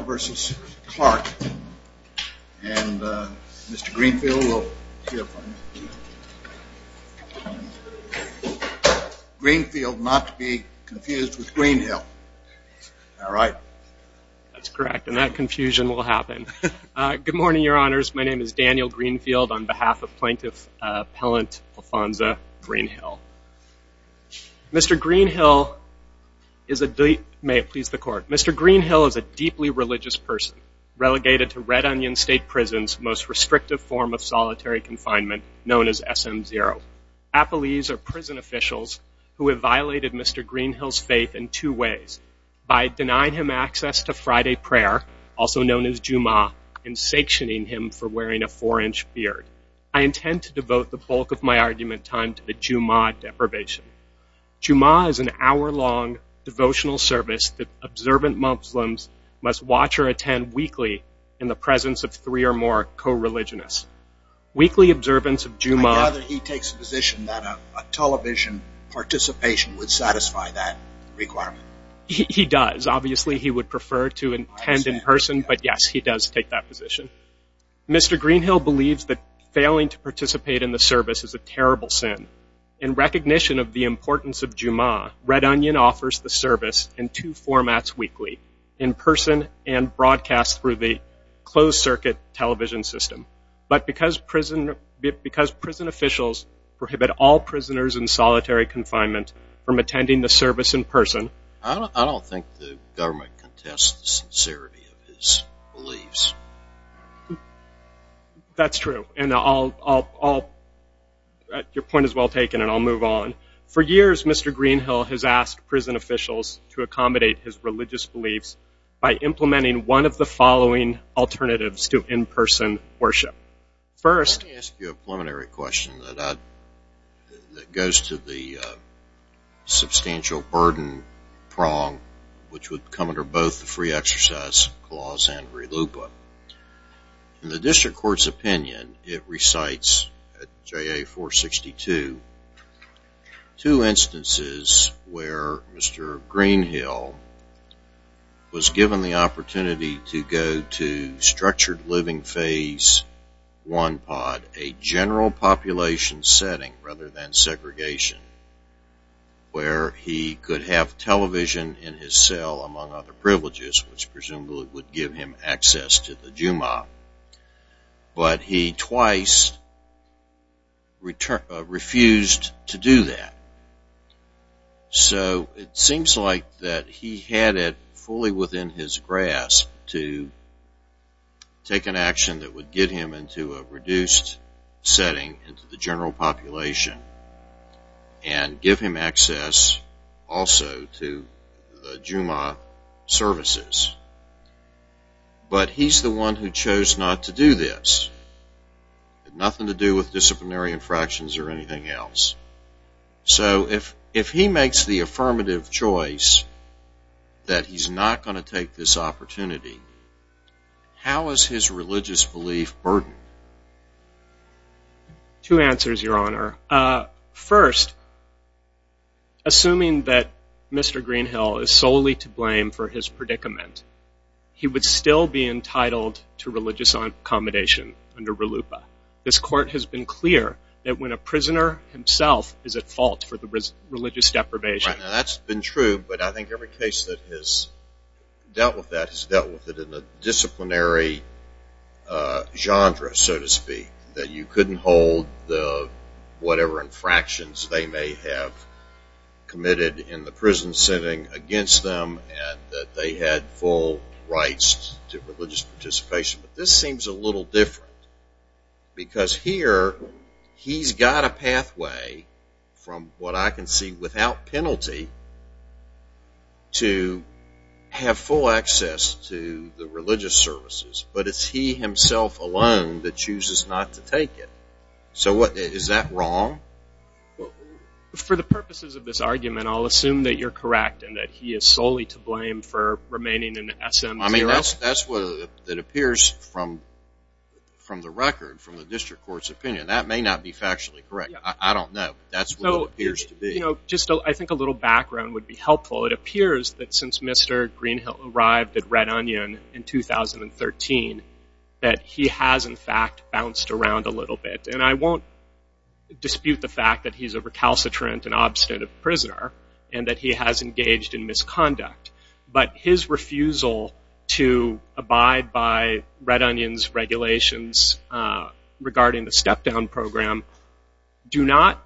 and Mr. Greenfield will hear from him. Greenfield, not to be confused with Greenhill. All right. That's correct, and that confusion will happen. Good morning, Your Honors. My name is Daniel Greenfield on behalf of Plaintiff Appellant Alfonza Greenhill. Mr. Greenhill is a deeply – may it please the Court – Mr. Greenhill is a deeply religious person, relegated to Red Onion State Prison's most restrictive form of solitary confinement, known as SM0. Appellees are prison officials who have violated Mr. Greenhill's faith in two ways, by denying him access to Friday prayer, also known as Jumu'ah, and sanctioning him for wearing a four-inch beard. I intend to devote the bulk of my argument time to the Jumu'ah deprivation. Jumu'ah is an hour-long devotional service that observant Muslims must watch or attend weekly in the presence of three or more co-religionists. Weekly observance of Jumu'ah – I gather he takes the position that a television participation would satisfy that requirement. He does. Obviously, he would prefer to attend in person, but yes, he does take that position. Mr. Greenhill believes that failing to participate in the service is a terrible sin. In recognition of the importance of Jumu'ah, Red Onion offers the service in two formats weekly – in person and broadcast through the closed-circuit television system. But because prison officials prohibit all prisoners in solitary confinement from attending the service in person – I don't think the government contests the sincerity of his beliefs. That's true. Your point is well taken, and I'll move on. For years, Mr. Greenhill has asked prison officials to accommodate his religious beliefs by implementing one of the following alternatives to in-person worship. First – Let me ask you a preliminary question that goes to the substantial burden prong which would come under both the Free Exercise Clause and RELUPA. In the District Court's opinion, it recites at JA 462, two instances where Mr. Greenhill was given the opportunity to go to structured living phase 1 pod, a general population setting rather than segregation, where he could have television in his cell, among other privileges, which presumably would give him access to the Jumu'ah. But he twice refused to do that. So it seems like that he had it fully within his grasp to take an action that would get him into a reduced setting into the general population and give him access also to the Jumu'ah services. But he's the one who chose not to do this. It had nothing to do with disciplinary infractions or anything else. So if he makes the affirmative choice that he's not going to take this opportunity, how is his religious belief burdened? Two answers, Your Honor. First, assuming that Mr. Greenhill is solely to blame for his predicament, he would still be entitled to religious accommodation under RELUPA. This court has been clear that when a prisoner himself is at fault for the religious deprivation. That's been true, but I think every case that has dealt with that has dealt with it in a disciplinary genre, so to speak, that you couldn't hold whatever infractions they may have committed in the prison setting against them and that they had full rights to religious participation. But this seems a little different because here he's got a pathway, from what I can see, without penalty, to have full access to the religious services. But it's he himself alone that chooses not to take it. So is that wrong? For the purposes of this argument, I'll assume that you're correct and that he is solely to blame for remaining in SM0. That's what it appears from the record, from the district court's opinion. That may not be factually correct. I don't know. That's what it appears to be. I think a little background would be helpful. It appears that since Mr. Greenhill arrived at Red Onion in 2013, that he has, in fact, bounced around a little bit. And I won't dispute the fact that he's a recalcitrant and obstinate prisoner and that he has engaged in misconduct. But his refusal to abide by Red Onion's regulations regarding the step-down program do not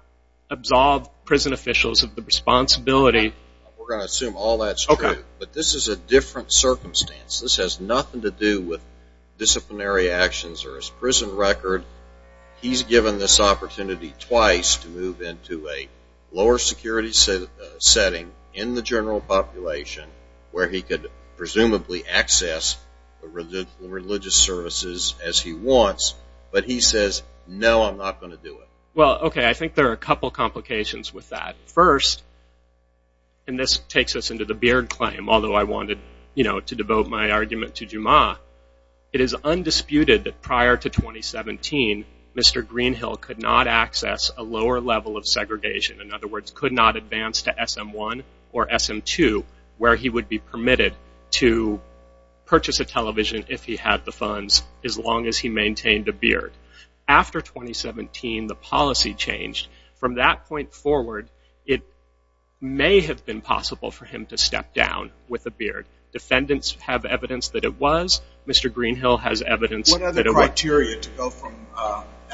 absolve prison officials of the responsibility. We're going to assume all that's true. But this is a different circumstance. This has nothing to do with disciplinary actions or his prison record. He's given this opportunity twice to move into a lower security setting in the general population where he could presumably access religious services as he wants. But he says, no, I'm not going to do it. Well, okay, I think there are a couple complications with that. First, and this takes us into the Beard claim, although I wanted to devote my argument to Juma, it is undisputed that prior to 2017, Mr. Greenhill could not access a lower level of segregation. In other words, could not advance to SM-1 or SM-2 where he would be permitted to purchase a television if he had the funds as long as he maintained a beard. After 2017, the policy changed. From that point forward, it may have been possible for him to step down with a beard. Defendants have evidence that it was. Mr. Greenhill has evidence that it was. What criteria to go from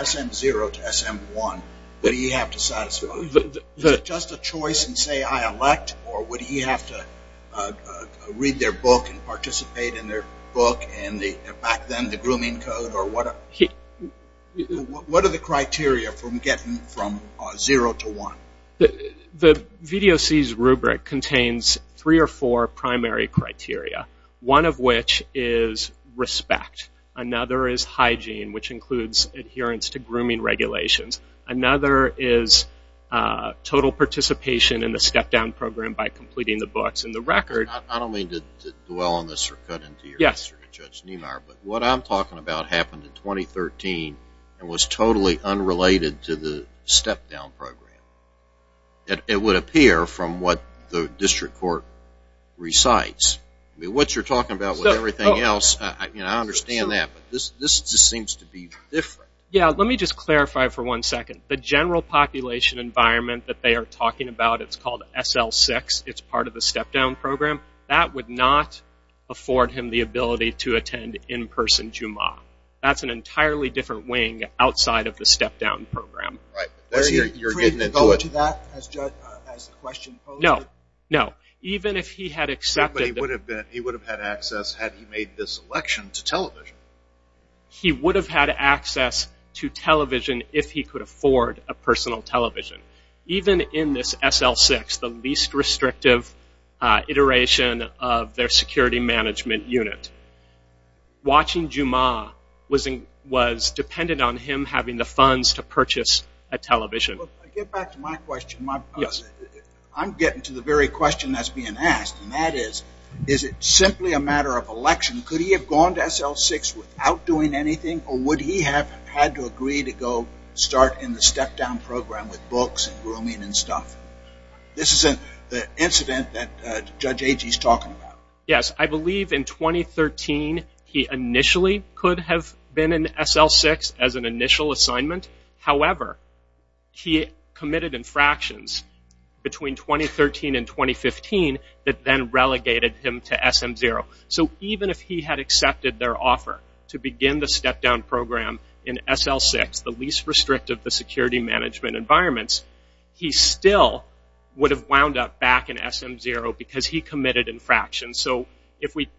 SM-0 to SM-1 would he have to satisfy? Is it just a choice and say, I elect, or would he have to read their book and participate in their book and back then the grooming code? What are the criteria from getting from 0 to 1? The VDOC's rubric contains three or four primary criteria, one of which is respect. Another is hygiene, which includes adherence to grooming regulations. Another is total participation in the step-down program by completing the books. I don't mean to dwell on this or cut into your answer to Judge Niemeyer, but what I'm talking about happened in 2013 and was totally unrelated to the step-down program. It would appear from what the district court recites. What you're talking about with everything else, I understand that, but this just seems to be different. Yeah, let me just clarify for one second. The general population environment that they are talking about, it's called SL-6. It's part of the step-down program. That would not afford him the ability to attend in-person JUMAA. That's an entirely different wing outside of the step-down program. Right. You're getting into it. Would he have to go to that as the question posed? No, no. He would have had access had he made this election to television. He would have had access to television if he could afford a personal television. Even in this SL-6, the least restrictive iteration of their security management unit, watching JUMAA was dependent on him having the funds to purchase a television. Get back to my question. I'm getting to the very question that's being asked, and that is, is it simply a matter of election? Could he have gone to SL-6 without doing anything, or would he have had to agree to go start in the step-down program with books and grooming and stuff? This isn't the incident that Judge Agee is talking about. Yes, I believe in 2013 he initially could have been in SL-6 as an initial assignment. However, he committed infractions between 2013 and 2015 that then relegated him to SM-0. So even if he had accepted their offer to begin the step-down program in SL-6, the least restrictive of the security management environments, he still would have wound up back in SM-0 because he committed infractions. So if we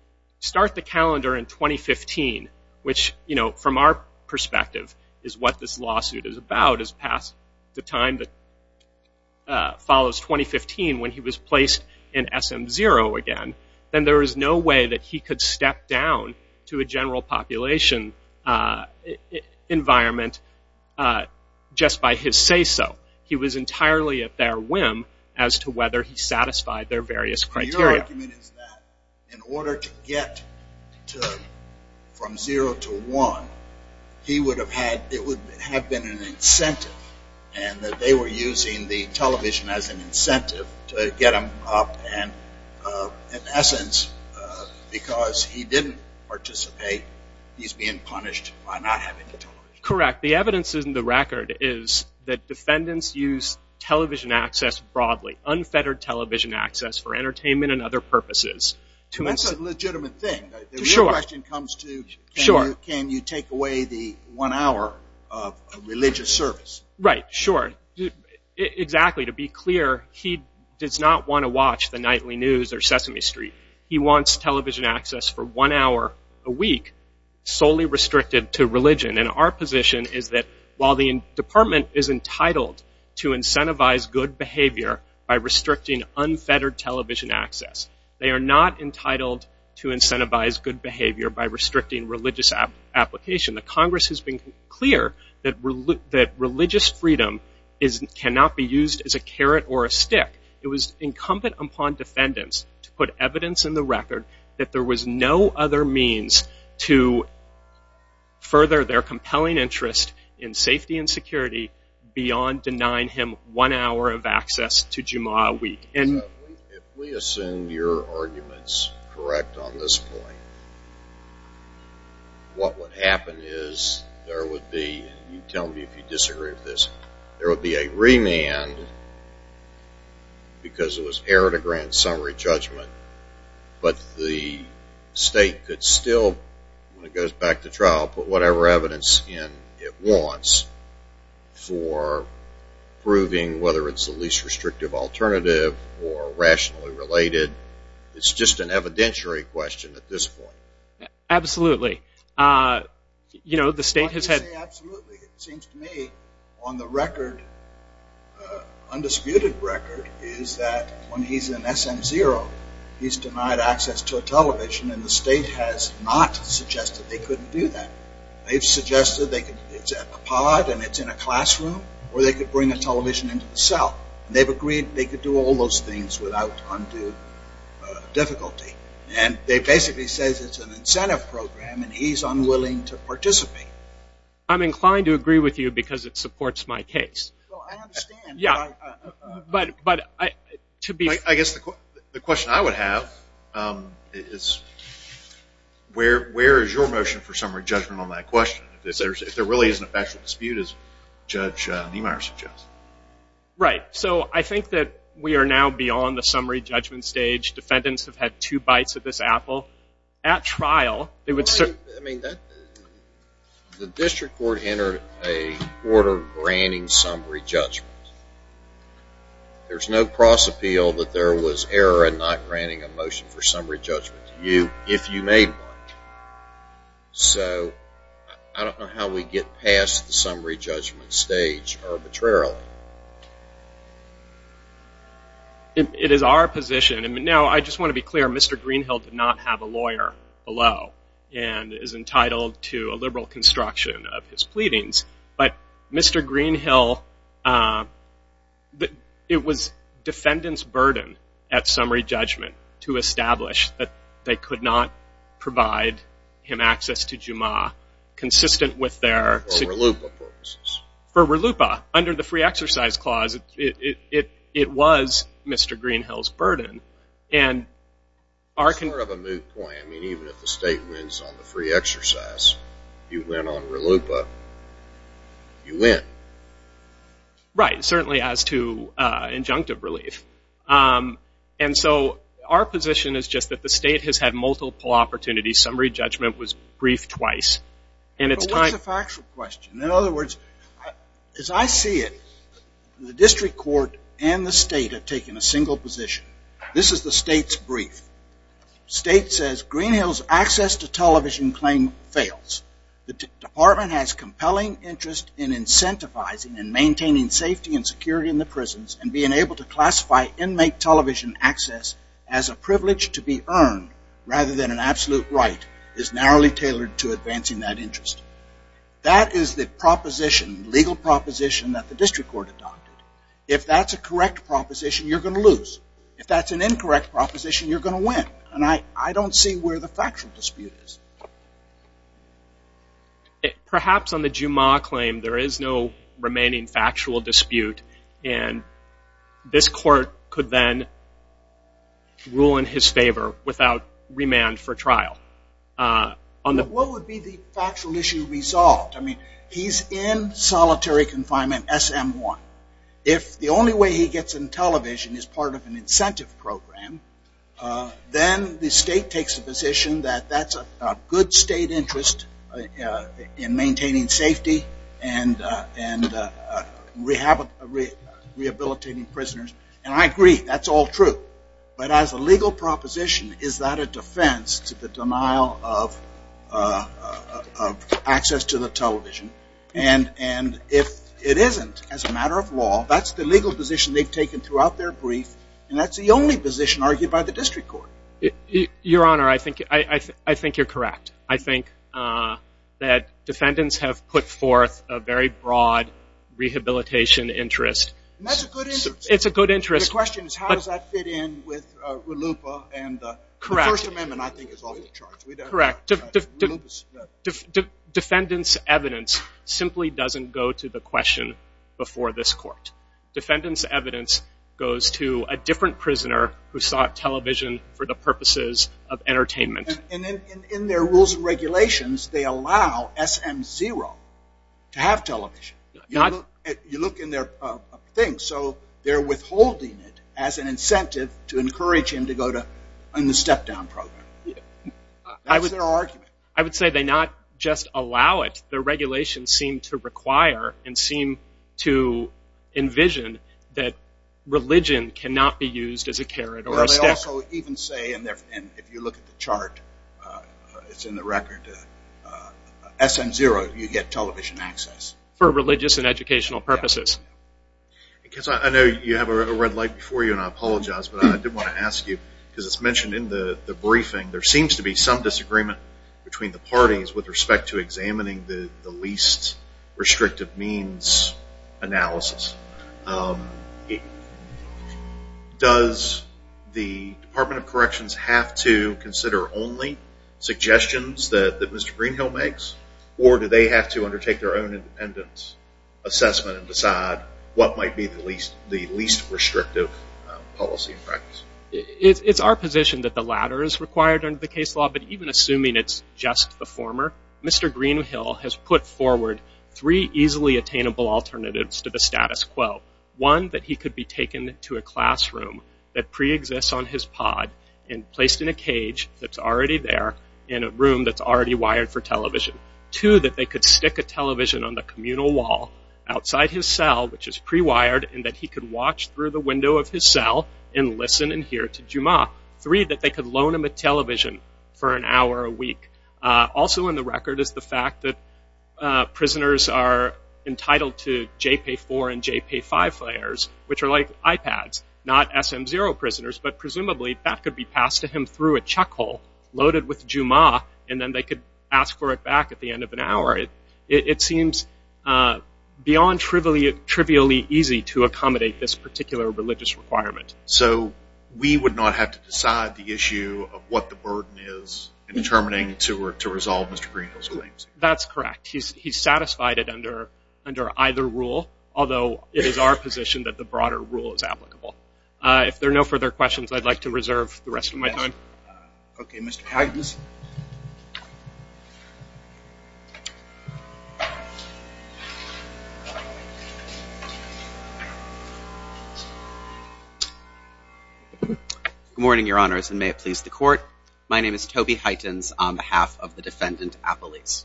start the calendar in 2015, which from our perspective is what this lawsuit is about, is past the time that follows 2015 when he was placed in SM-0 again, then there is no way that he could step down to a general population environment just by his say-so. He was entirely at their whim as to whether he satisfied their various criteria. Your argument is that in order to get from 0 to 1, it would have been an incentive and that they were using the television as an incentive to get him up and in essence because he didn't participate, he's being punished by not having the television. Correct. The evidence in the record is that defendants use television access broadly, unfettered television access for entertainment and other purposes. That's a legitimate thing. Your question comes to can you take away the one hour of religious service? Right. Sure. Exactly. To be clear, he does not want to watch the nightly news or Sesame Street. He wants television access for one hour a week solely restricted to religion. Our position is that while the department is entitled to incentivize good behavior by restricting unfettered television access, they are not entitled to incentivize good behavior by restricting religious application. The Congress has been clear that religious freedom cannot be used as a carrot or a stick. It was incumbent upon defendants to put evidence in the record that there was no other means to further their compelling interest in safety and security beyond denying him one hour of access to Jummah a week. If we assume your arguments correct on this point, what would happen is there would be, and you tell me if you disagree with this, there would be a remand because it was error to grant summary judgment, but the state could still, when it goes back to trial, put whatever evidence in it wants for proving whether it's the least restrictive alternative or rationally related. It's just an evidentiary question at this point. Absolutely. Absolutely. It seems to me on the record, undisputed record, is that when he's in SM0, he's denied access to a television and the state has not suggested they couldn't do that. They've suggested it's at the pod and it's in a classroom or they could bring a television into the cell. They've agreed they could do all those things without undue difficulty. They basically say it's an incentive program and he's unwilling to participate. I'm inclined to agree with you because it supports my case. I understand. I guess the question I would have is where is your motion for summary judgment on that question if there really isn't a factual dispute as Judge Niemeyer suggests? Right. So I think that we are now beyond the summary judgment stage. Defendants have had two bites of this apple. At trial, they would certainly... I mean, the district court entered a order granting summary judgment. There's no cross appeal that there was error in not granting a motion for summary judgment to you if you made one. So I don't know how we get past the summary judgment stage arbitrarily. It is our position. Now, I just want to be clear. Mr. Greenhill did not have a lawyer below and is entitled to a liberal construction of his pleadings. But Mr. Greenhill, it was defendant's burden at summary judgment to establish that they could not provide him access to Juma consistent with their... For RLUIPA purposes. For RLUIPA. Under the free exercise clause, it was Mr. Greenhill's burden. And our... Sort of a moot point. I mean, even if the state wins on the free exercise, you win on RLUIPA, you win. Right. Certainly as to injunctive relief. And so our position is just that the state has had multiple opportunities. Summary judgment was briefed twice. But what's the factual question? In other words, as I see it, the district court and the state have taken a single position. This is the state's brief. State says, Greenhill's access to television claim fails. The department has compelling interest in incentivizing and maintaining safety and security in the prisons and being able to classify inmate television access as a privilege to be earned rather than an absolute right is narrowly tailored to advancing that interest. That is the proposition, legal proposition that the district court adopted. If that's a correct proposition, you're going to lose. If that's an incorrect proposition, you're going to win. And I don't see where the factual dispute is. Perhaps on the Juma claim there is no remaining factual dispute and this court could then rule in his favor without remand for trial. What would be the factual issue resolved? I mean, he's in solitary confinement, SM-1. If the only way he gets in television is part of an incentive program, then the state takes a position that that's a good state interest in maintaining safety and rehabilitating prisoners. And I agree, that's all true. But as a legal proposition, is that a defense to the denial of access to the television? And if it isn't as a matter of law, that's the legal position they've taken throughout their brief and that's the only position argued by the district court. Your Honor, I think you're correct. I think that defendants have put forth a very broad rehabilitation interest. And that's a good interest. It's a good interest. The question is how does that fit in with RLUIPA and the First Amendment, I think, is also charged. Correct. Defendant's evidence simply doesn't go to the question before this court. Defendant's evidence goes to a different prisoner who sought television for the purposes of entertainment. And in their rules and regulations, they allow SM-0 to have television. You look in their things. So they're withholding it as an incentive to encourage him to go to the step-down program. That was their argument. I would say they not just allow it. Their regulations seem to require and seem to envision that religion cannot be used as a carrot or a stick. And if you look at the chart, it's in the record, SM-0, you get television access. For religious and educational purposes. I know you have a red light before you and I apologize, but I did want to ask you, because it's mentioned in the briefing, there seems to be some disagreement between the parties with respect to examining the least restrictive means analysis. Does the Department of Corrections have to consider only suggestions that Mr. Greenhill makes, or do they have to undertake their own independence assessment and decide what might be the least restrictive policy and practice? It's our position that the latter is required under the case law, but even assuming it's just the former, Mr. Greenhill has put forward three easily attainable alternatives to the status quo. One, that he could be taken to a classroom that pre-exists on his pod and placed in a cage that's already there in a room that's already wired for television. Two, that they could stick a television on the communal wall outside his cell, which is pre-wired, and that he could watch through the window of his cell and listen and hear to Jummah. Three, that they could loan him a television for an hour a week. Also on the record is the fact that prisoners are entitled to JP4 and JP5 players, which are like iPads, not SM0 prisoners, but presumably that could be passed to him through a chuck hole, loaded with Jummah, and then they could ask for it back at the end of an hour. It seems beyond trivially easy to accommodate this particular religious requirement. So we would not have to decide the issue of what the burden is in determining to resolve Mr. Greenhill's claims? That's correct. He's satisfied it under either rule, although it is our position that the broader rule is applicable. If there are no further questions, I'd like to reserve the rest of my time. Okay, Mr. Hytens. Good morning, Your Honors, and may it please the Court. My name is Toby Hytens on behalf of the defendant, Appelese.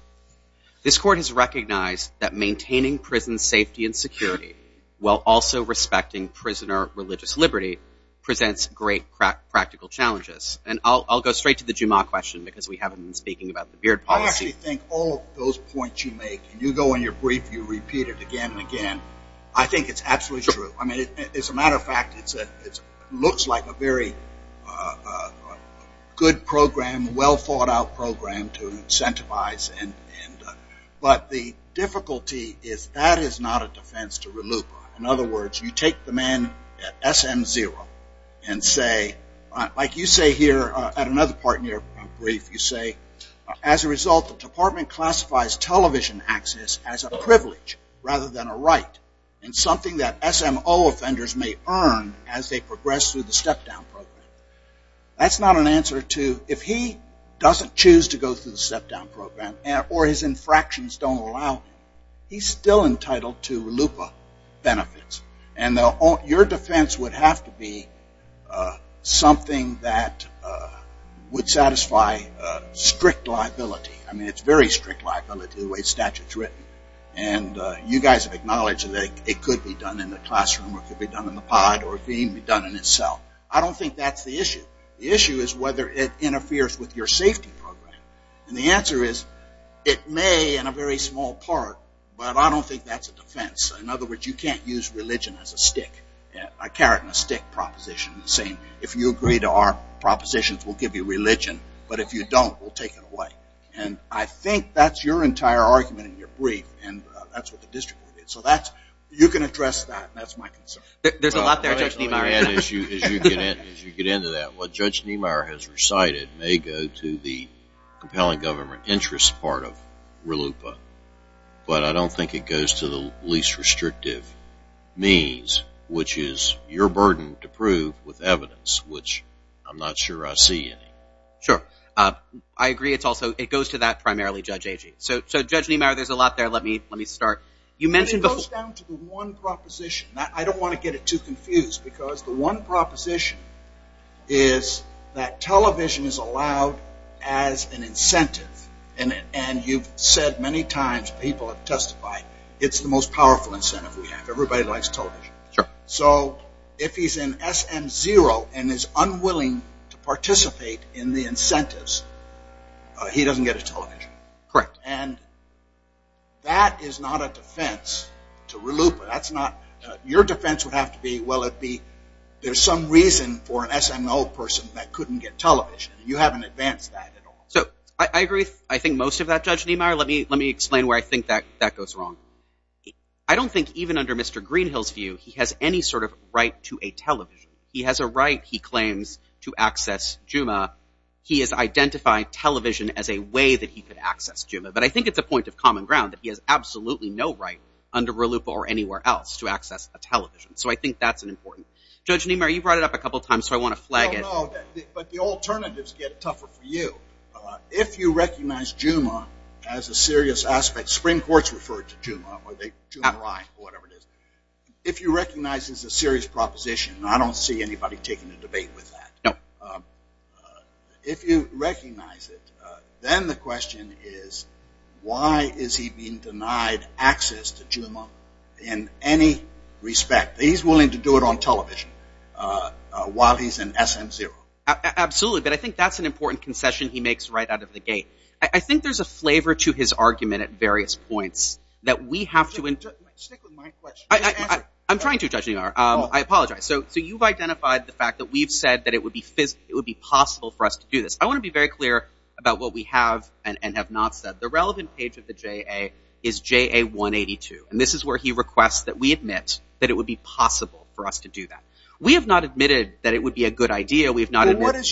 This Court has recognized that maintaining prison safety and security, while also respecting prisoner religious liberty, presents great practical challenges. And I'll go straight to the Jummah question because we haven't been speaking about the Beard policy. I actually think all of those points you make, you go in your brief, you repeat it again and again, I think it's absolutely true. I mean, as a matter of fact, it looks like a very good program, well-thought-out program to incentivize. But the difficulty is that is not a defense to RLUIPA. In other words, you take the man at SM0 and say, like you say here at another part in your brief, you say, as a result, the department classifies television access as a privilege rather than a right, and something that SMO offenders may earn as they progress through the step-down program. That's not an answer to if he doesn't choose to go through the step-down program or his infractions don't allow, he's still entitled to RLUIPA benefits. And your defense would have to be something that would satisfy strict liability. I mean, it's very strict liability the way the statute is written. And you guys have acknowledged that it could be done in the classroom or it could be done in the pod or it could even be done in a cell. I don't think that's the issue. The issue is whether it interferes with your safety program. And the answer is it may in a very small part, but I don't think that's a defense. In other words, you can't use religion as a stick, a carrot and a stick proposition. If you agree to our propositions, we'll give you religion. But if you don't, we'll take it away. And I think that's your entire argument in your brief, and that's what the district will do. So you can address that, and that's my concern. There's a lot there, Judge Niemeyer. As you get into that, what Judge Niemeyer has recited may go to the compelling government interest part of RLUIPA, but I don't think it goes to the least restrictive means, which is your burden to prove with evidence, which I'm not sure I see any. Sure. I agree it's also goes to that primarily, Judge Agee. So, Judge Niemeyer, there's a lot there. Let me start. It goes down to the one proposition. I don't want to get it too confused, because the one proposition is that television is allowed as an incentive. And you've said many times, people have testified, it's the most powerful incentive we have. Everybody likes television. Sure. So if he's in SM0 and is unwilling to participate in the incentives, he doesn't get a television. Correct. And that is not a defense to RLUIPA. Your defense would have to be, well, there's some reason for an SM0 person that couldn't get television. You haven't advanced that at all. I agree with, I think, most of that, Judge Niemeyer. Let me explain where I think that goes wrong. I don't think even under Mr. Greenhill's view, he has any sort of right to a television. He has a right, he claims, to access Juma. He has identified television as a way that he could access Juma. But I think it's a point of common ground that he has absolutely no right under RLUIPA or anywhere else to access a television. So I think that's important. Judge Niemeyer, you brought it up a couple times, so I want to flag it. No, no. But the alternatives get tougher for you. If you recognize Juma as a serious aspect, Supreme Court's referred to Juma, or Juma Rye, or whatever it is. If you recognize it as a serious proposition, and I don't see anybody taking a debate with that. No. If you recognize it, then the question is, why is he being denied access to Juma in any respect? He's willing to do it on television while he's in SM0. Absolutely. But I think that's an important concession he makes right out of the gate. I think there's a flavor to his argument at various points that we have to— Stick with my question. I'm trying to, Judge Niemeyer. I apologize. So you've identified the fact that we've said that it would be possible for us to do this. I want to be very clear about what we have and have not said. The relevant page of the JA is JA 182, and this is where he requests that we admit that it would be possible for us to do that. We have not admitted that it would be a good idea. Let's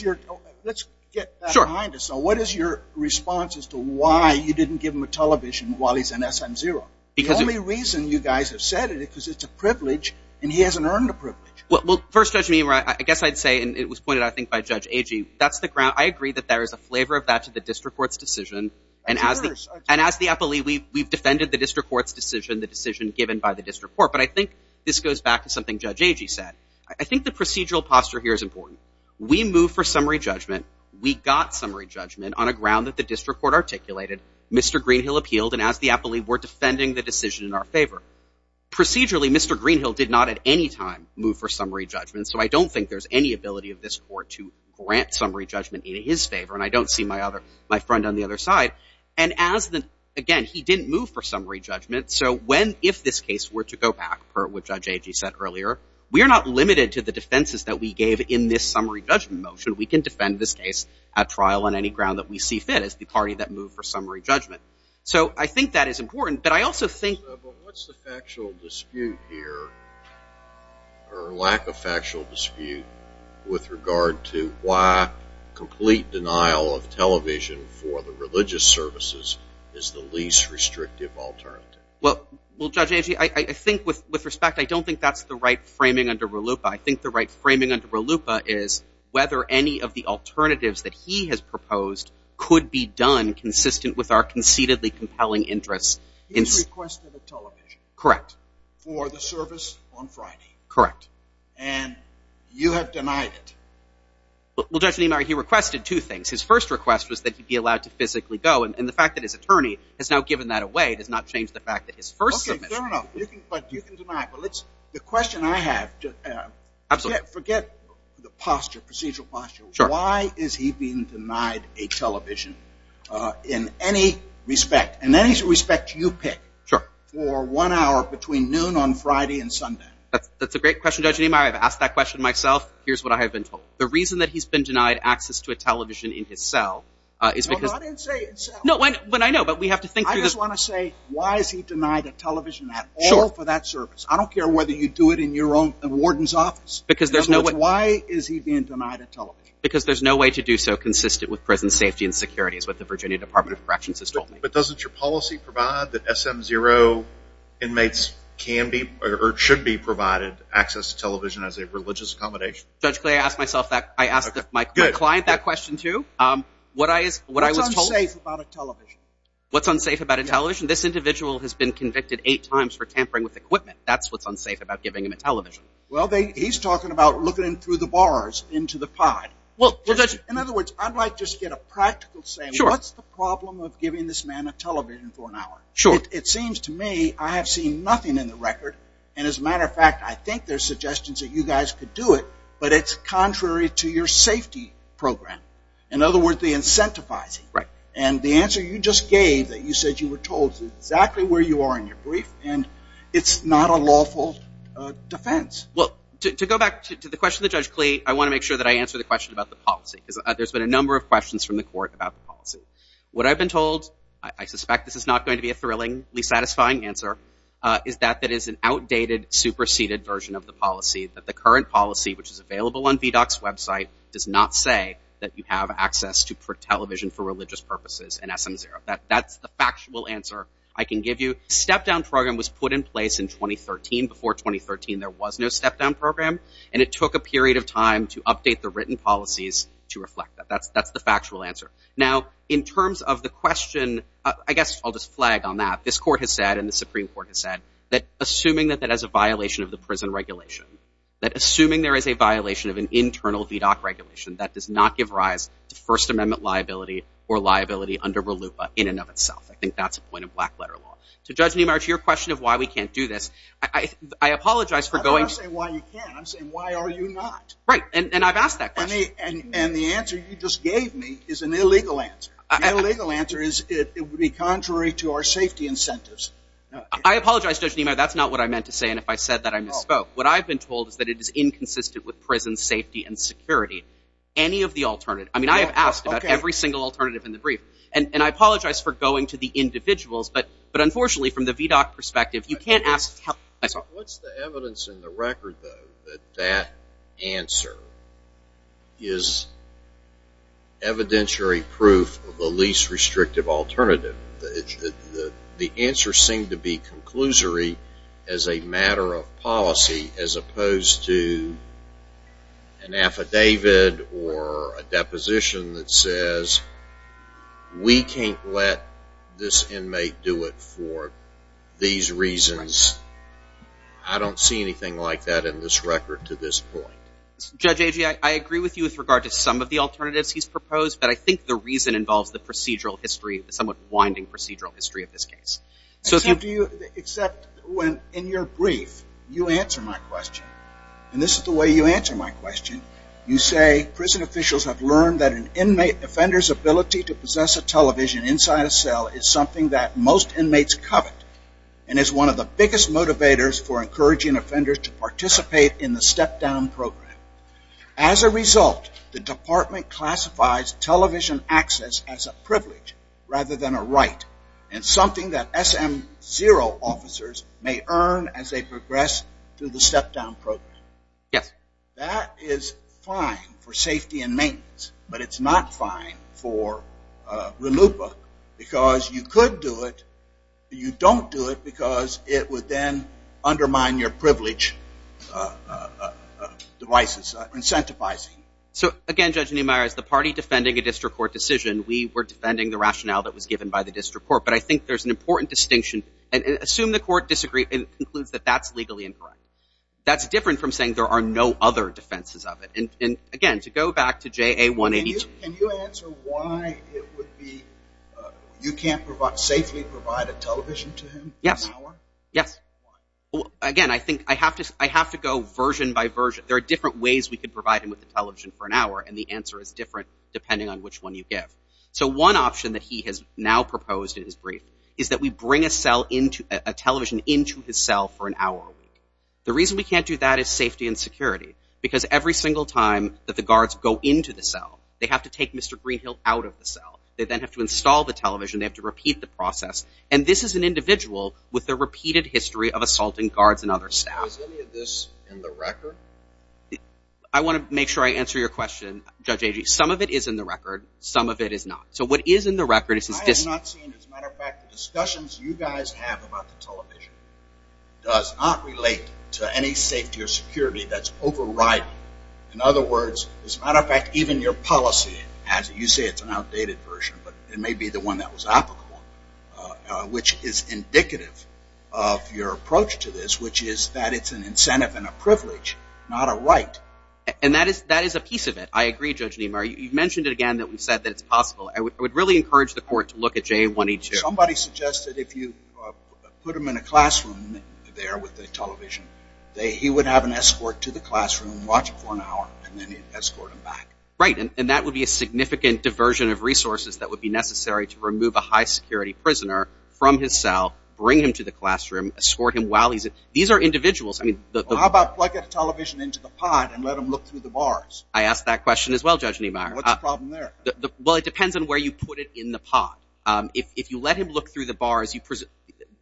get that behind us. So what is your response as to why you didn't give him a television while he's in SM0? The only reason you guys have said it is because it's a privilege, and he hasn't earned a privilege. Well, first, Judge Niemeyer, I guess I'd say, and it was pointed out, I think, by Judge Agee, that's the ground—I agree that there is a flavor of that to the district court's decision. Of course. And as the appellee, we've defended the district court's decision, the decision given by the district court. But I think this goes back to something Judge Agee said. I think the procedural posture here is important. We move for summary judgment. We got summary judgment on a ground that the district court articulated. Mr. Greenhill appealed, and as the appellee, we're defending the decision in our favor. Procedurally, Mr. Greenhill did not at any time move for summary judgment, so I don't think there's any ability of this court to grant summary judgment in his favor. And I don't see my other—my friend on the other side. And as the—again, he didn't move for summary judgment. So when—if this case were to go back, per what Judge Agee said earlier, we are not limited to the defenses that we gave in this summary judgment motion. We can defend this case at trial on any ground that we see fit as the party that moved for summary judgment. So I think that is important. But I also think— But what's the factual dispute here, or lack of factual dispute, with regard to why complete denial of television for the religious services is the least restrictive alternative? Well, Judge Agee, I think with respect, I don't think that's the right framing under RLUIPA. I think the right framing under RLUIPA is whether any of the alternatives that he has proposed could be done consistent with our conceitedly compelling interests. He has requested a television. Correct. For the service on Friday. Correct. And you have denied it. Well, Judge Niemeyer, he requested two things. His first request was that he be allowed to physically go, and the fact that his attorney has now given that away does not change the fact that his first submission— Okay, fair enough. But you can deny it. The question I have— Absolutely. Forget the posture, procedural posture. Sure. Why is he being denied a television in any respect? In any respect you pick. Sure. For one hour between noon on Friday and Sunday. That's a great question, Judge Niemeyer. I've asked that question myself. Here's what I have been told. The reason that he's been denied access to a television in his cell is because— No, I didn't say in cell. No, I know, but we have to think through this. I just want to say, why is he denied a television at all for that service? I don't care whether you do it in your own warden's office. Why is he being denied a television? Because there's no way to do so consistent with prison safety and security, is what the Virginia Department of Corrections has told me. But doesn't your policy provide that SM0 inmates can be or should be provided access to television as a religious accommodation? Judge Clay, I asked myself that. I asked my client that question, too. What's unsafe about a television? What's unsafe about a television? This individual has been convicted eight times for tampering with equipment. That's what's unsafe about giving him a television. Well, he's talking about looking through the bars into the pod. In other words, I'd like to just get a practical saying. What's the problem of giving this man a television for an hour? It seems to me I have seen nothing in the record. And as a matter of fact, I think there's suggestions that you guys could do it, but it's contrary to your safety program. In other words, they incentivize it. And the answer you just gave, that you said you were told exactly where you are in your brief, and it's not a lawful defense. Well, to go back to the question to Judge Clay, I want to make sure that I answer the question about the policy. There's been a number of questions from the court about the policy. What I've been told, I suspect this is not going to be a thrillingly satisfying answer, is that it is an outdated, superseded version of the policy, that the current policy, which is available on VDOC's website, does not say that you have access to television for religious purposes in SM0. That's the factual answer I can give you. A step-down program was put in place in 2013. Before 2013, there was no step-down program, and it took a period of time to update the written policies to reflect that. That's the factual answer. Now, in terms of the question, I guess I'll just flag on that. This court has said, and the Supreme Court has said, that assuming that that is a violation of the prison regulation, that assuming there is a violation of an internal VDOC regulation, that does not give rise to First Amendment liability or liability under RLUIPA in and of itself. I think that's a point of black-letter law. To Judge Niemeyer, to your question of why we can't do this, I apologize for going... I'm not saying why you can't, I'm saying why are you not? Right, and I've asked that question. And the answer you just gave me is an illegal answer. The illegal answer is it would be contrary to our safety incentives. I apologize, Judge Niemeyer, that's not what I meant to say, and if I said that, I misspoke. What I've been told is that it is inconsistent with prison safety and security. Any of the alternative, I mean, I have asked about every single alternative in the brief, and I apologize for going to the individuals, but unfortunately from the VDOC perspective, you can't ask... What's the evidence in the record, though, that that answer is evidentiary proof of the least restrictive alternative? The answers seem to be conclusory as a matter of policy as opposed to an affidavit or a deposition that says, we can't let this inmate do it for these reasons. I don't see anything like that in this record to this point. Judge Agee, I agree with you with regard to some of the alternatives he's proposed, but I think the reason involves the procedural history, the somewhat winding procedural history of this case. Except in your brief, you answer my question, and this is the way you answer my question. You say, prison officials have learned that an inmate offender's ability to possess a television inside a cell is something that most inmates covet and is one of the biggest motivators for encouraging offenders to participate in the step-down program. Rather than a right, and something that SM0 officers may earn as they progress through the step-down program. Yes. That is fine for safety and maintenance, but it's not fine for RLUIPA because you could do it, but you don't do it because it would then undermine your privilege devices, incentivizing. So, again, Judge Niemeyer, as the party defending a district court decision, we were defending the rationale that was given by the district court, but I think there's an important distinction. Assume the court disagrees and concludes that that's legally incorrect. That's different from saying there are no other defenses of it. And, again, to go back to JA182. Can you answer why it would be you can't safely provide a television to him? Yes. Why? Again, I think I have to go version by version. There are different ways we could provide him with a television for an hour, and the answer is different depending on which one you give. So one option that he has now proposed in his brief is that we bring a television into his cell for an hour a week. The reason we can't do that is safety and security because every single time that the guards go into the cell, they have to take Mr. Greenhill out of the cell. They then have to install the television. They have to repeat the process, and this is an individual with a repeated history of assaulting guards and other staff. Is any of this in the record? I want to make sure I answer your question, Judge Agee. Some of it is in the record. Some of it is not. So what is in the record is this. I have not seen, as a matter of fact, the discussions you guys have about the television does not relate to any safety or security that's overriding. In other words, as a matter of fact, even your policy, as you say it's an outdated version, but it may be the one that was applicable, which is indicative of your approach to this, which is that it's an incentive and a privilege, not a right. And that is a piece of it. I agree, Judge Niemeyer. You've mentioned it again that we've said that it's possible. I would really encourage the court to look at JA-182. Somebody suggested if you put him in a classroom there with the television, he would have an escort to the classroom, watch it for an hour, and then escort him back. Right, and that would be a significant diversion of resources that would be necessary to remove a high-security prisoner from his cell, bring him to the classroom, escort him while he's in. These are individuals. How about put the television into the pod and let him look through the bars? I asked that question as well, Judge Niemeyer. What's the problem there? Well, it depends on where you put it in the pod. If you let him look through the bars,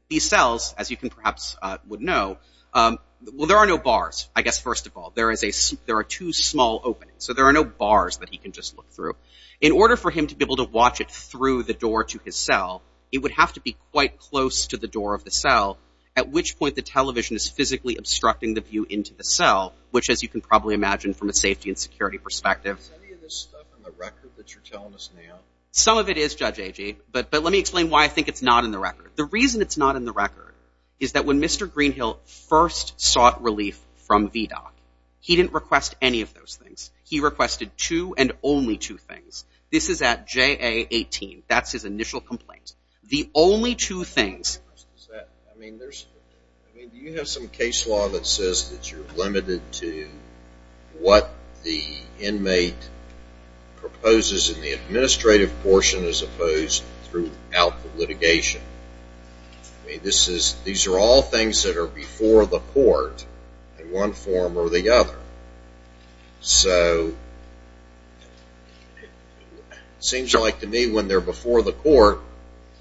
these cells, as you perhaps would know, well, there are no bars, I guess, first of all. There are two small openings, so there are no bars that he can just look through. In order for him to be able to watch it through the door to his cell, it would have to be quite close to the door of the cell, at which point the television is physically obstructing the view into the cell, which, as you can probably imagine from a safety and security perspective. Is any of this stuff in the record that you're telling us now? Some of it is, Judge Agee, but let me explain why I think it's not in the record. The reason it's not in the record is that when Mr. Greenhill first sought relief from VDOC, he didn't request any of those things. He requested two and only two things. This is at JA-18. That's his initial complaint. The only two things... I mean, do you have some case law that says that you're limited to what the inmate proposes in the administrative portion as opposed throughout the litigation? I mean, these are all things that are before the court in one form or the other. So it seems like to me when they're before the court,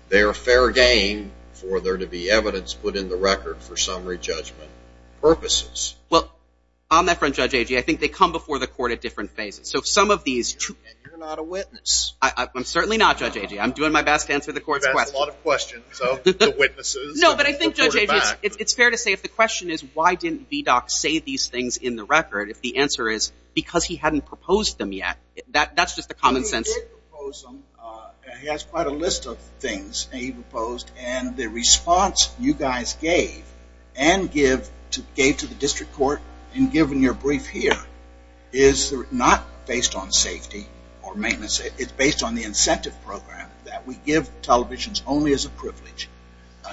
they're a fair game for there to be evidence put in the record for summary judgment purposes. Well, on that front, Judge Agee, I think they come before the court at different phases. So some of these... And you're not a witness. I'm certainly not, Judge Agee. I'm doing my best to answer the court's questions. You've asked a lot of questions of the witnesses. No, but I think, Judge Agee, it's fair to say if the question is why didn't VDOC say these things in the record, if the answer is because he hadn't proposed them yet. That's just the common sense. He did propose them. He has quite a list of things he proposed. And the response you guys gave and gave to the district court in giving your brief here is not based on safety or maintenance. It's based on the incentive program that we give televisions only as a privilege,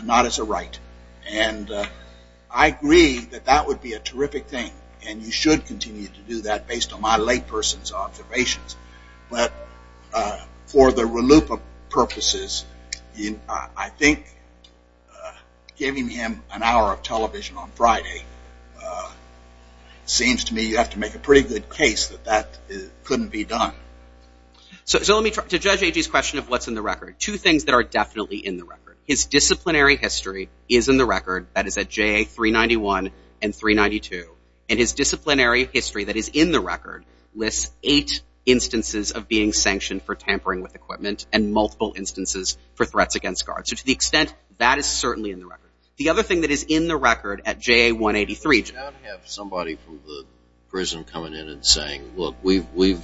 not as a right. And I agree that that would be a terrific thing, and you should continue to do that based on my layperson's observations. But for the reloop of purposes, I think giving him an hour of television on Friday seems to me you have to make a pretty good case that that couldn't be done. So to Judge Agee's question of what's in the record, two things that are definitely in the record. His disciplinary history is in the record. That is at JA 391 and 392. And his disciplinary history that is in the record lists eight instances of being sanctioned for tampering with equipment and multiple instances for threats against guards. So to the extent, that is certainly in the record. The other thing that is in the record at JA 183. You don't have somebody from the prison coming in and saying, look, we've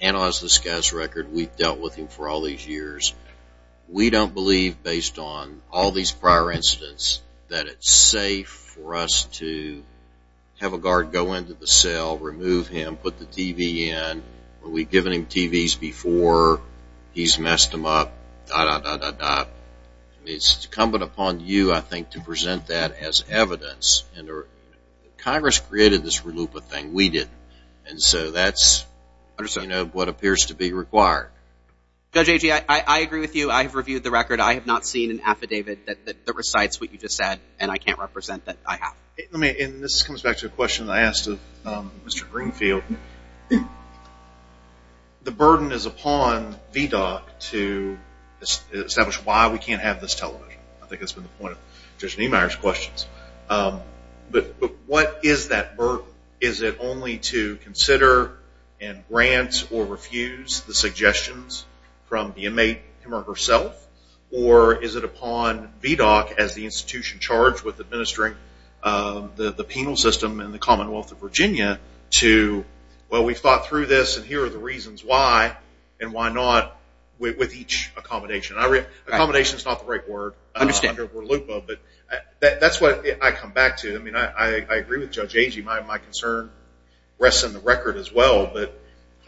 analyzed this guy's record. We've dealt with him for all these years. We don't believe, based on all these prior incidents, that it's safe for us to have a guard go into the cell, remove him, put the TV in. Are we giving him TVs before he's messed them up? It's incumbent upon you, I think, to present that as evidence. Congress created this reloop of things. We didn't. And so that's what appears to be required. Judge Agee, I agree with you. I have reviewed the record. I have not seen an affidavit that recites what you just said, and I can't represent that I have. And this comes back to a question I asked of Mr. Greenfield. The burden is upon VDOC to establish why we can't have this television. I think that's been the point of Judge Niemeyer's questions. But what is that burden? Is it only to consider and grant or refuse the suggestions from the inmate him or herself? Or is it upon VDOC as the institution charged with administering the penal system in the Commonwealth of Virginia to, well, we've thought through this, and here are the reasons why, and why not with each accommodation? Accommodation is not the right word. I understand. But that's what I come back to. I agree with Judge Agee. My concern rests in the record as well, but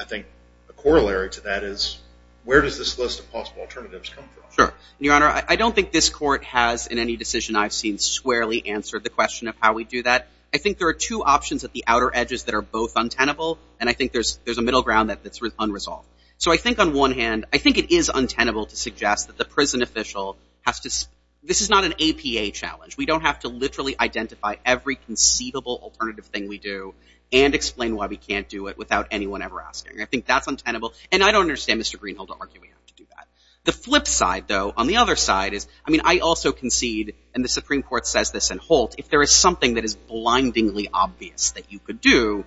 I think the corollary to that is where does this list of possible alternatives come from? Sure. Your Honor, I don't think this court has in any decision I've seen squarely answered the question of how we do that. I think there are two options at the outer edges that are both untenable, and I think there's a middle ground that's unresolved. So I think on one hand, I think it is untenable to suggest that the prison official has to – this is not an APA challenge. We don't have to literally identify every conceivable alternative thing we do and explain why we can't do it without anyone ever asking. I think that's untenable, and I don't understand Mr. Greenhill to argue we have to do that. The flip side, though, on the other side is, I mean, I also concede, and the Supreme Court says this in Holt, if there is something that is blindingly obvious that you could do,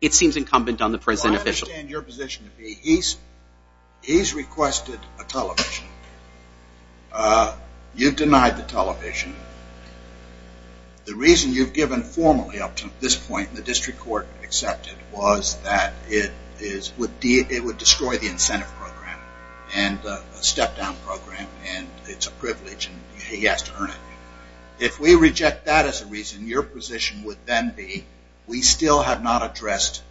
it seems incumbent on the prison official. Well, I understand your position to be he's requested a television. You've denied the television. The reason you've given formally up to this point, the district court accepted, was that it would destroy the incentive program and the step-down program, and it's a privilege and he has to earn it. If we reject that as a reason, your position would then be we still have not addressed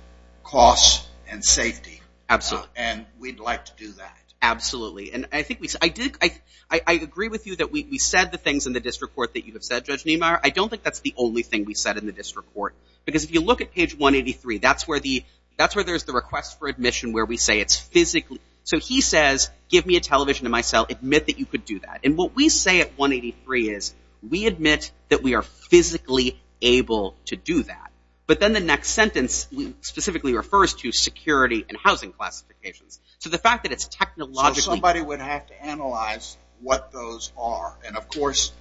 costs and safety. Absolutely. And we'd like to do that. Absolutely. I agree with you that we said the things in the district court that you have said, Judge Niemeyer. I don't think that's the only thing we said in the district court, because if you look at page 183, that's where there's the request for admission where we say it's physically. So he says, give me a television in my cell. Admit that you could do that. And what we say at 183 is we admit that we are physically able to do that. But then the next sentence specifically refers to security and housing classifications. So the fact that it's technologically So somebody would have to analyze what those are. And, of course,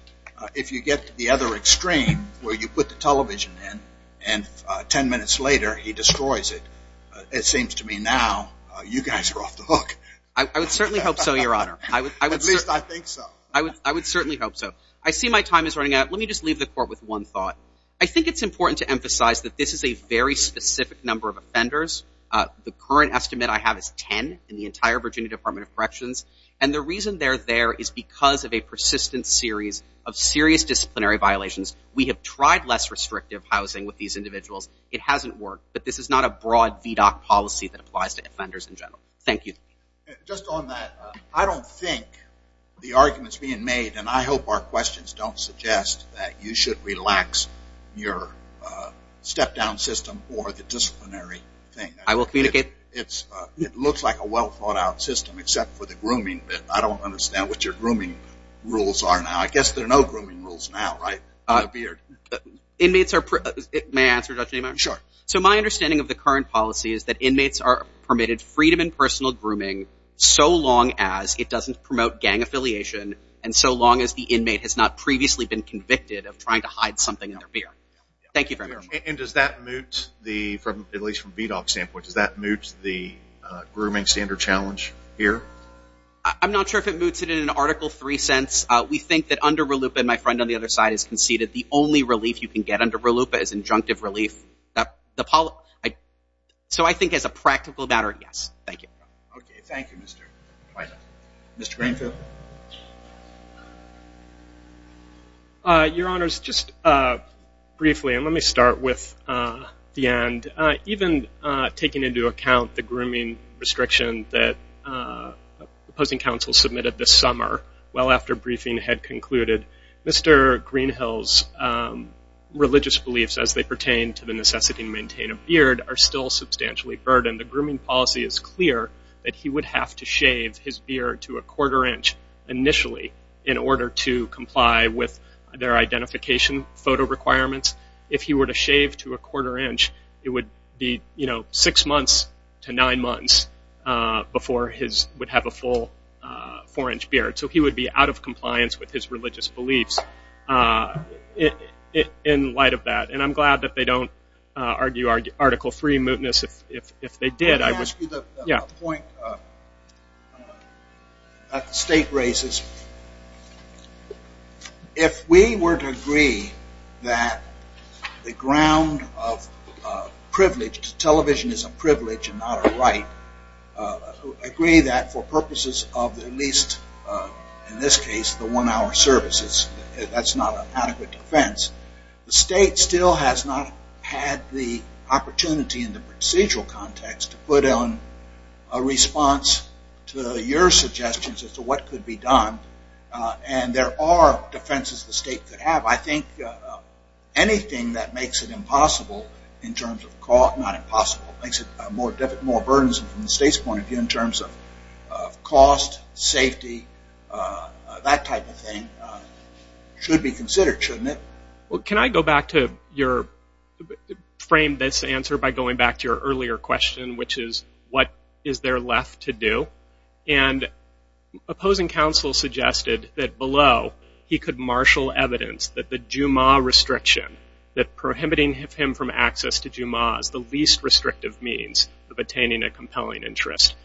if you get to the other extreme where you put the television in and ten minutes later he destroys it, it seems to me now you guys are off the hook. I would certainly hope so, Your Honor. At least I think so. I would certainly hope so. I see my time is running out. Let me just leave the court with one thought. I think it's important to emphasize that this is a very specific number of offenders. The current estimate I have is ten in the entire Virginia Department of Corrections. And the reason they're there is because of a persistent series of serious disciplinary violations. We have tried less restrictive housing with these individuals. It hasn't worked. But this is not a broad VDOC policy that applies to offenders in general. Thank you. Just on that, I don't think the arguments being made, and I hope our questions don't suggest that you should relax your step-down system or the disciplinary thing. I will communicate. It looks like a well-thought-out system except for the grooming bit. I don't understand what your grooming rules are now. I guess there are no grooming rules now, right, on the beard? May I answer, Judge Neiman? Sure. So my understanding of the current policy is that inmates are permitted freedom in personal grooming so long as it doesn't promote gang affiliation and so long as the inmate has not previously been convicted of trying to hide something in their beard. Thank you very much. And does that moot, at least from a VDOC standpoint, does that moot the grooming standard challenge here? I'm not sure if it moots it in an Article III sense. We think that under RLUIPA, and my friend on the other side has conceded, the only relief you can get under RLUIPA is injunctive relief. So I think as a practical matter, yes. Thank you. Okay. Thank you, Mr. Twyla. Mr. Greenfield? Your Honors, just briefly, and let me start with the end. Even taking into account the grooming restriction that opposing counsel submitted this summer, well after briefing had concluded, Mr. Greenhill's religious beliefs as they pertain to the necessity to maintain a beard are still substantially burdened. The grooming policy is clear that he would have to shave his beard to a quarter inch initially in order to comply with their identification photo requirements. If he were to shave to a quarter inch, it would be, you know, six months to nine months before he would have a full four-inch beard. So he would be out of compliance with his religious beliefs in light of that. And I'm glad that they don't argue Article III mootness. If they did, I would. Let me ask you the point that the State raises. If we were to agree that the ground of privilege, television is a privilege and not a right, agree that for purposes of at least in this case the one-hour services, that's not an adequate defense. The State still has not had the opportunity in the procedural context to put on a response to your suggestions as to what could be done. And there are defenses the State could have. I think anything that makes it impossible in terms of cost, not impossible, makes it more burdensome from the State's point of view in terms of cost, safety, that type of thing should be considered, shouldn't it? Well, can I go back to your frame this answer by going back to your earlier question, which is what is there left to do? And opposing counsel suggested that below he could marshal evidence that the Juma restriction, that prohibiting him from access to Juma is the least restrictive means of attaining a compelling interest.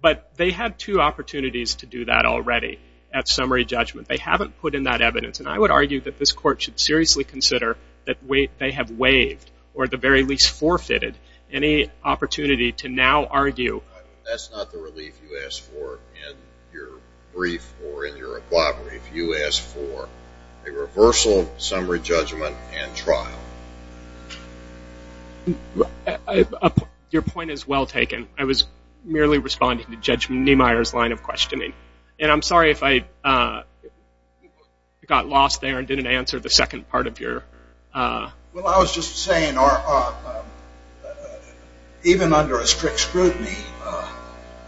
But they had two opportunities to do that already at summary judgment. They haven't put in that evidence. And I would argue that this Court should seriously consider that they have waived or at the very least forfeited any opportunity to now argue. That's not the relief you asked for in your brief or in your oblivery. You asked for a reversal of summary judgment and trial. Your point is well taken. I was merely responding to Judge Niemeyer's line of questioning. And I'm sorry if I got lost there and didn't answer the second part of your question. Well, I was just saying even under a strict scrutiny,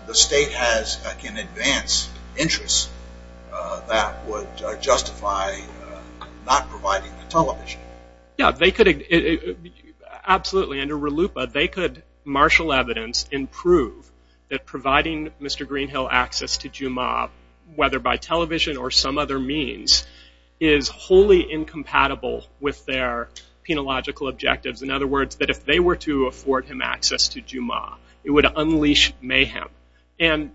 the State can advance interests that would justify not providing the television. Yeah, they could absolutely. Under RLUIPA, they could marshal evidence and prove that providing Mr. Greenhill access to Juma, whether by television or some other means, is wholly incompatible with their penological objectives. In other words, that if they were to afford him access to Juma, it would unleash mayhem. And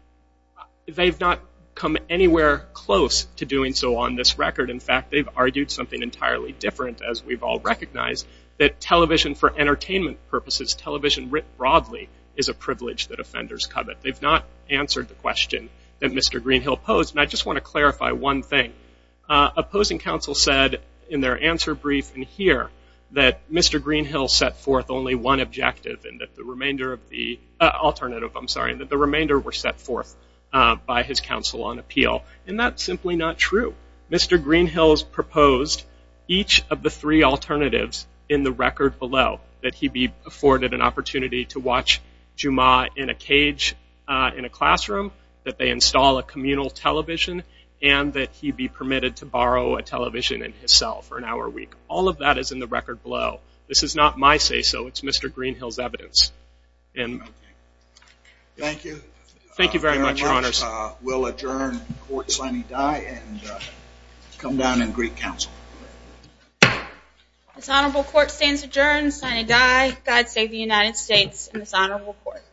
they've not come anywhere close to doing so on this record. In fact, they've argued something entirely different, as we've all recognized, that television for entertainment purposes, television writ broadly, is a privilege that offenders covet. They've not answered the question that Mr. Greenhill posed. And I just want to clarify one thing. Opposing counsel said in their answer brief in here that Mr. Greenhill set forth only one objective and that the remainder of the alternative, I'm sorry, that the remainder were set forth by his counsel on appeal. And that's simply not true. Mr. Greenhill's proposed each of the three alternatives in the record below, that he be afforded an opportunity to watch Juma in a cage in a classroom, that they install a communal television, and that he be permitted to borrow a television in his cell for an hour a week. All of that is in the record below. This is not my say-so. It's Mr. Greenhill's evidence. Thank you. Thank you very much, Your Honors. We'll adjourn the court signing die and come down and greet counsel. This honorable court stands adjourned, signing die. God save the United States and this honorable court.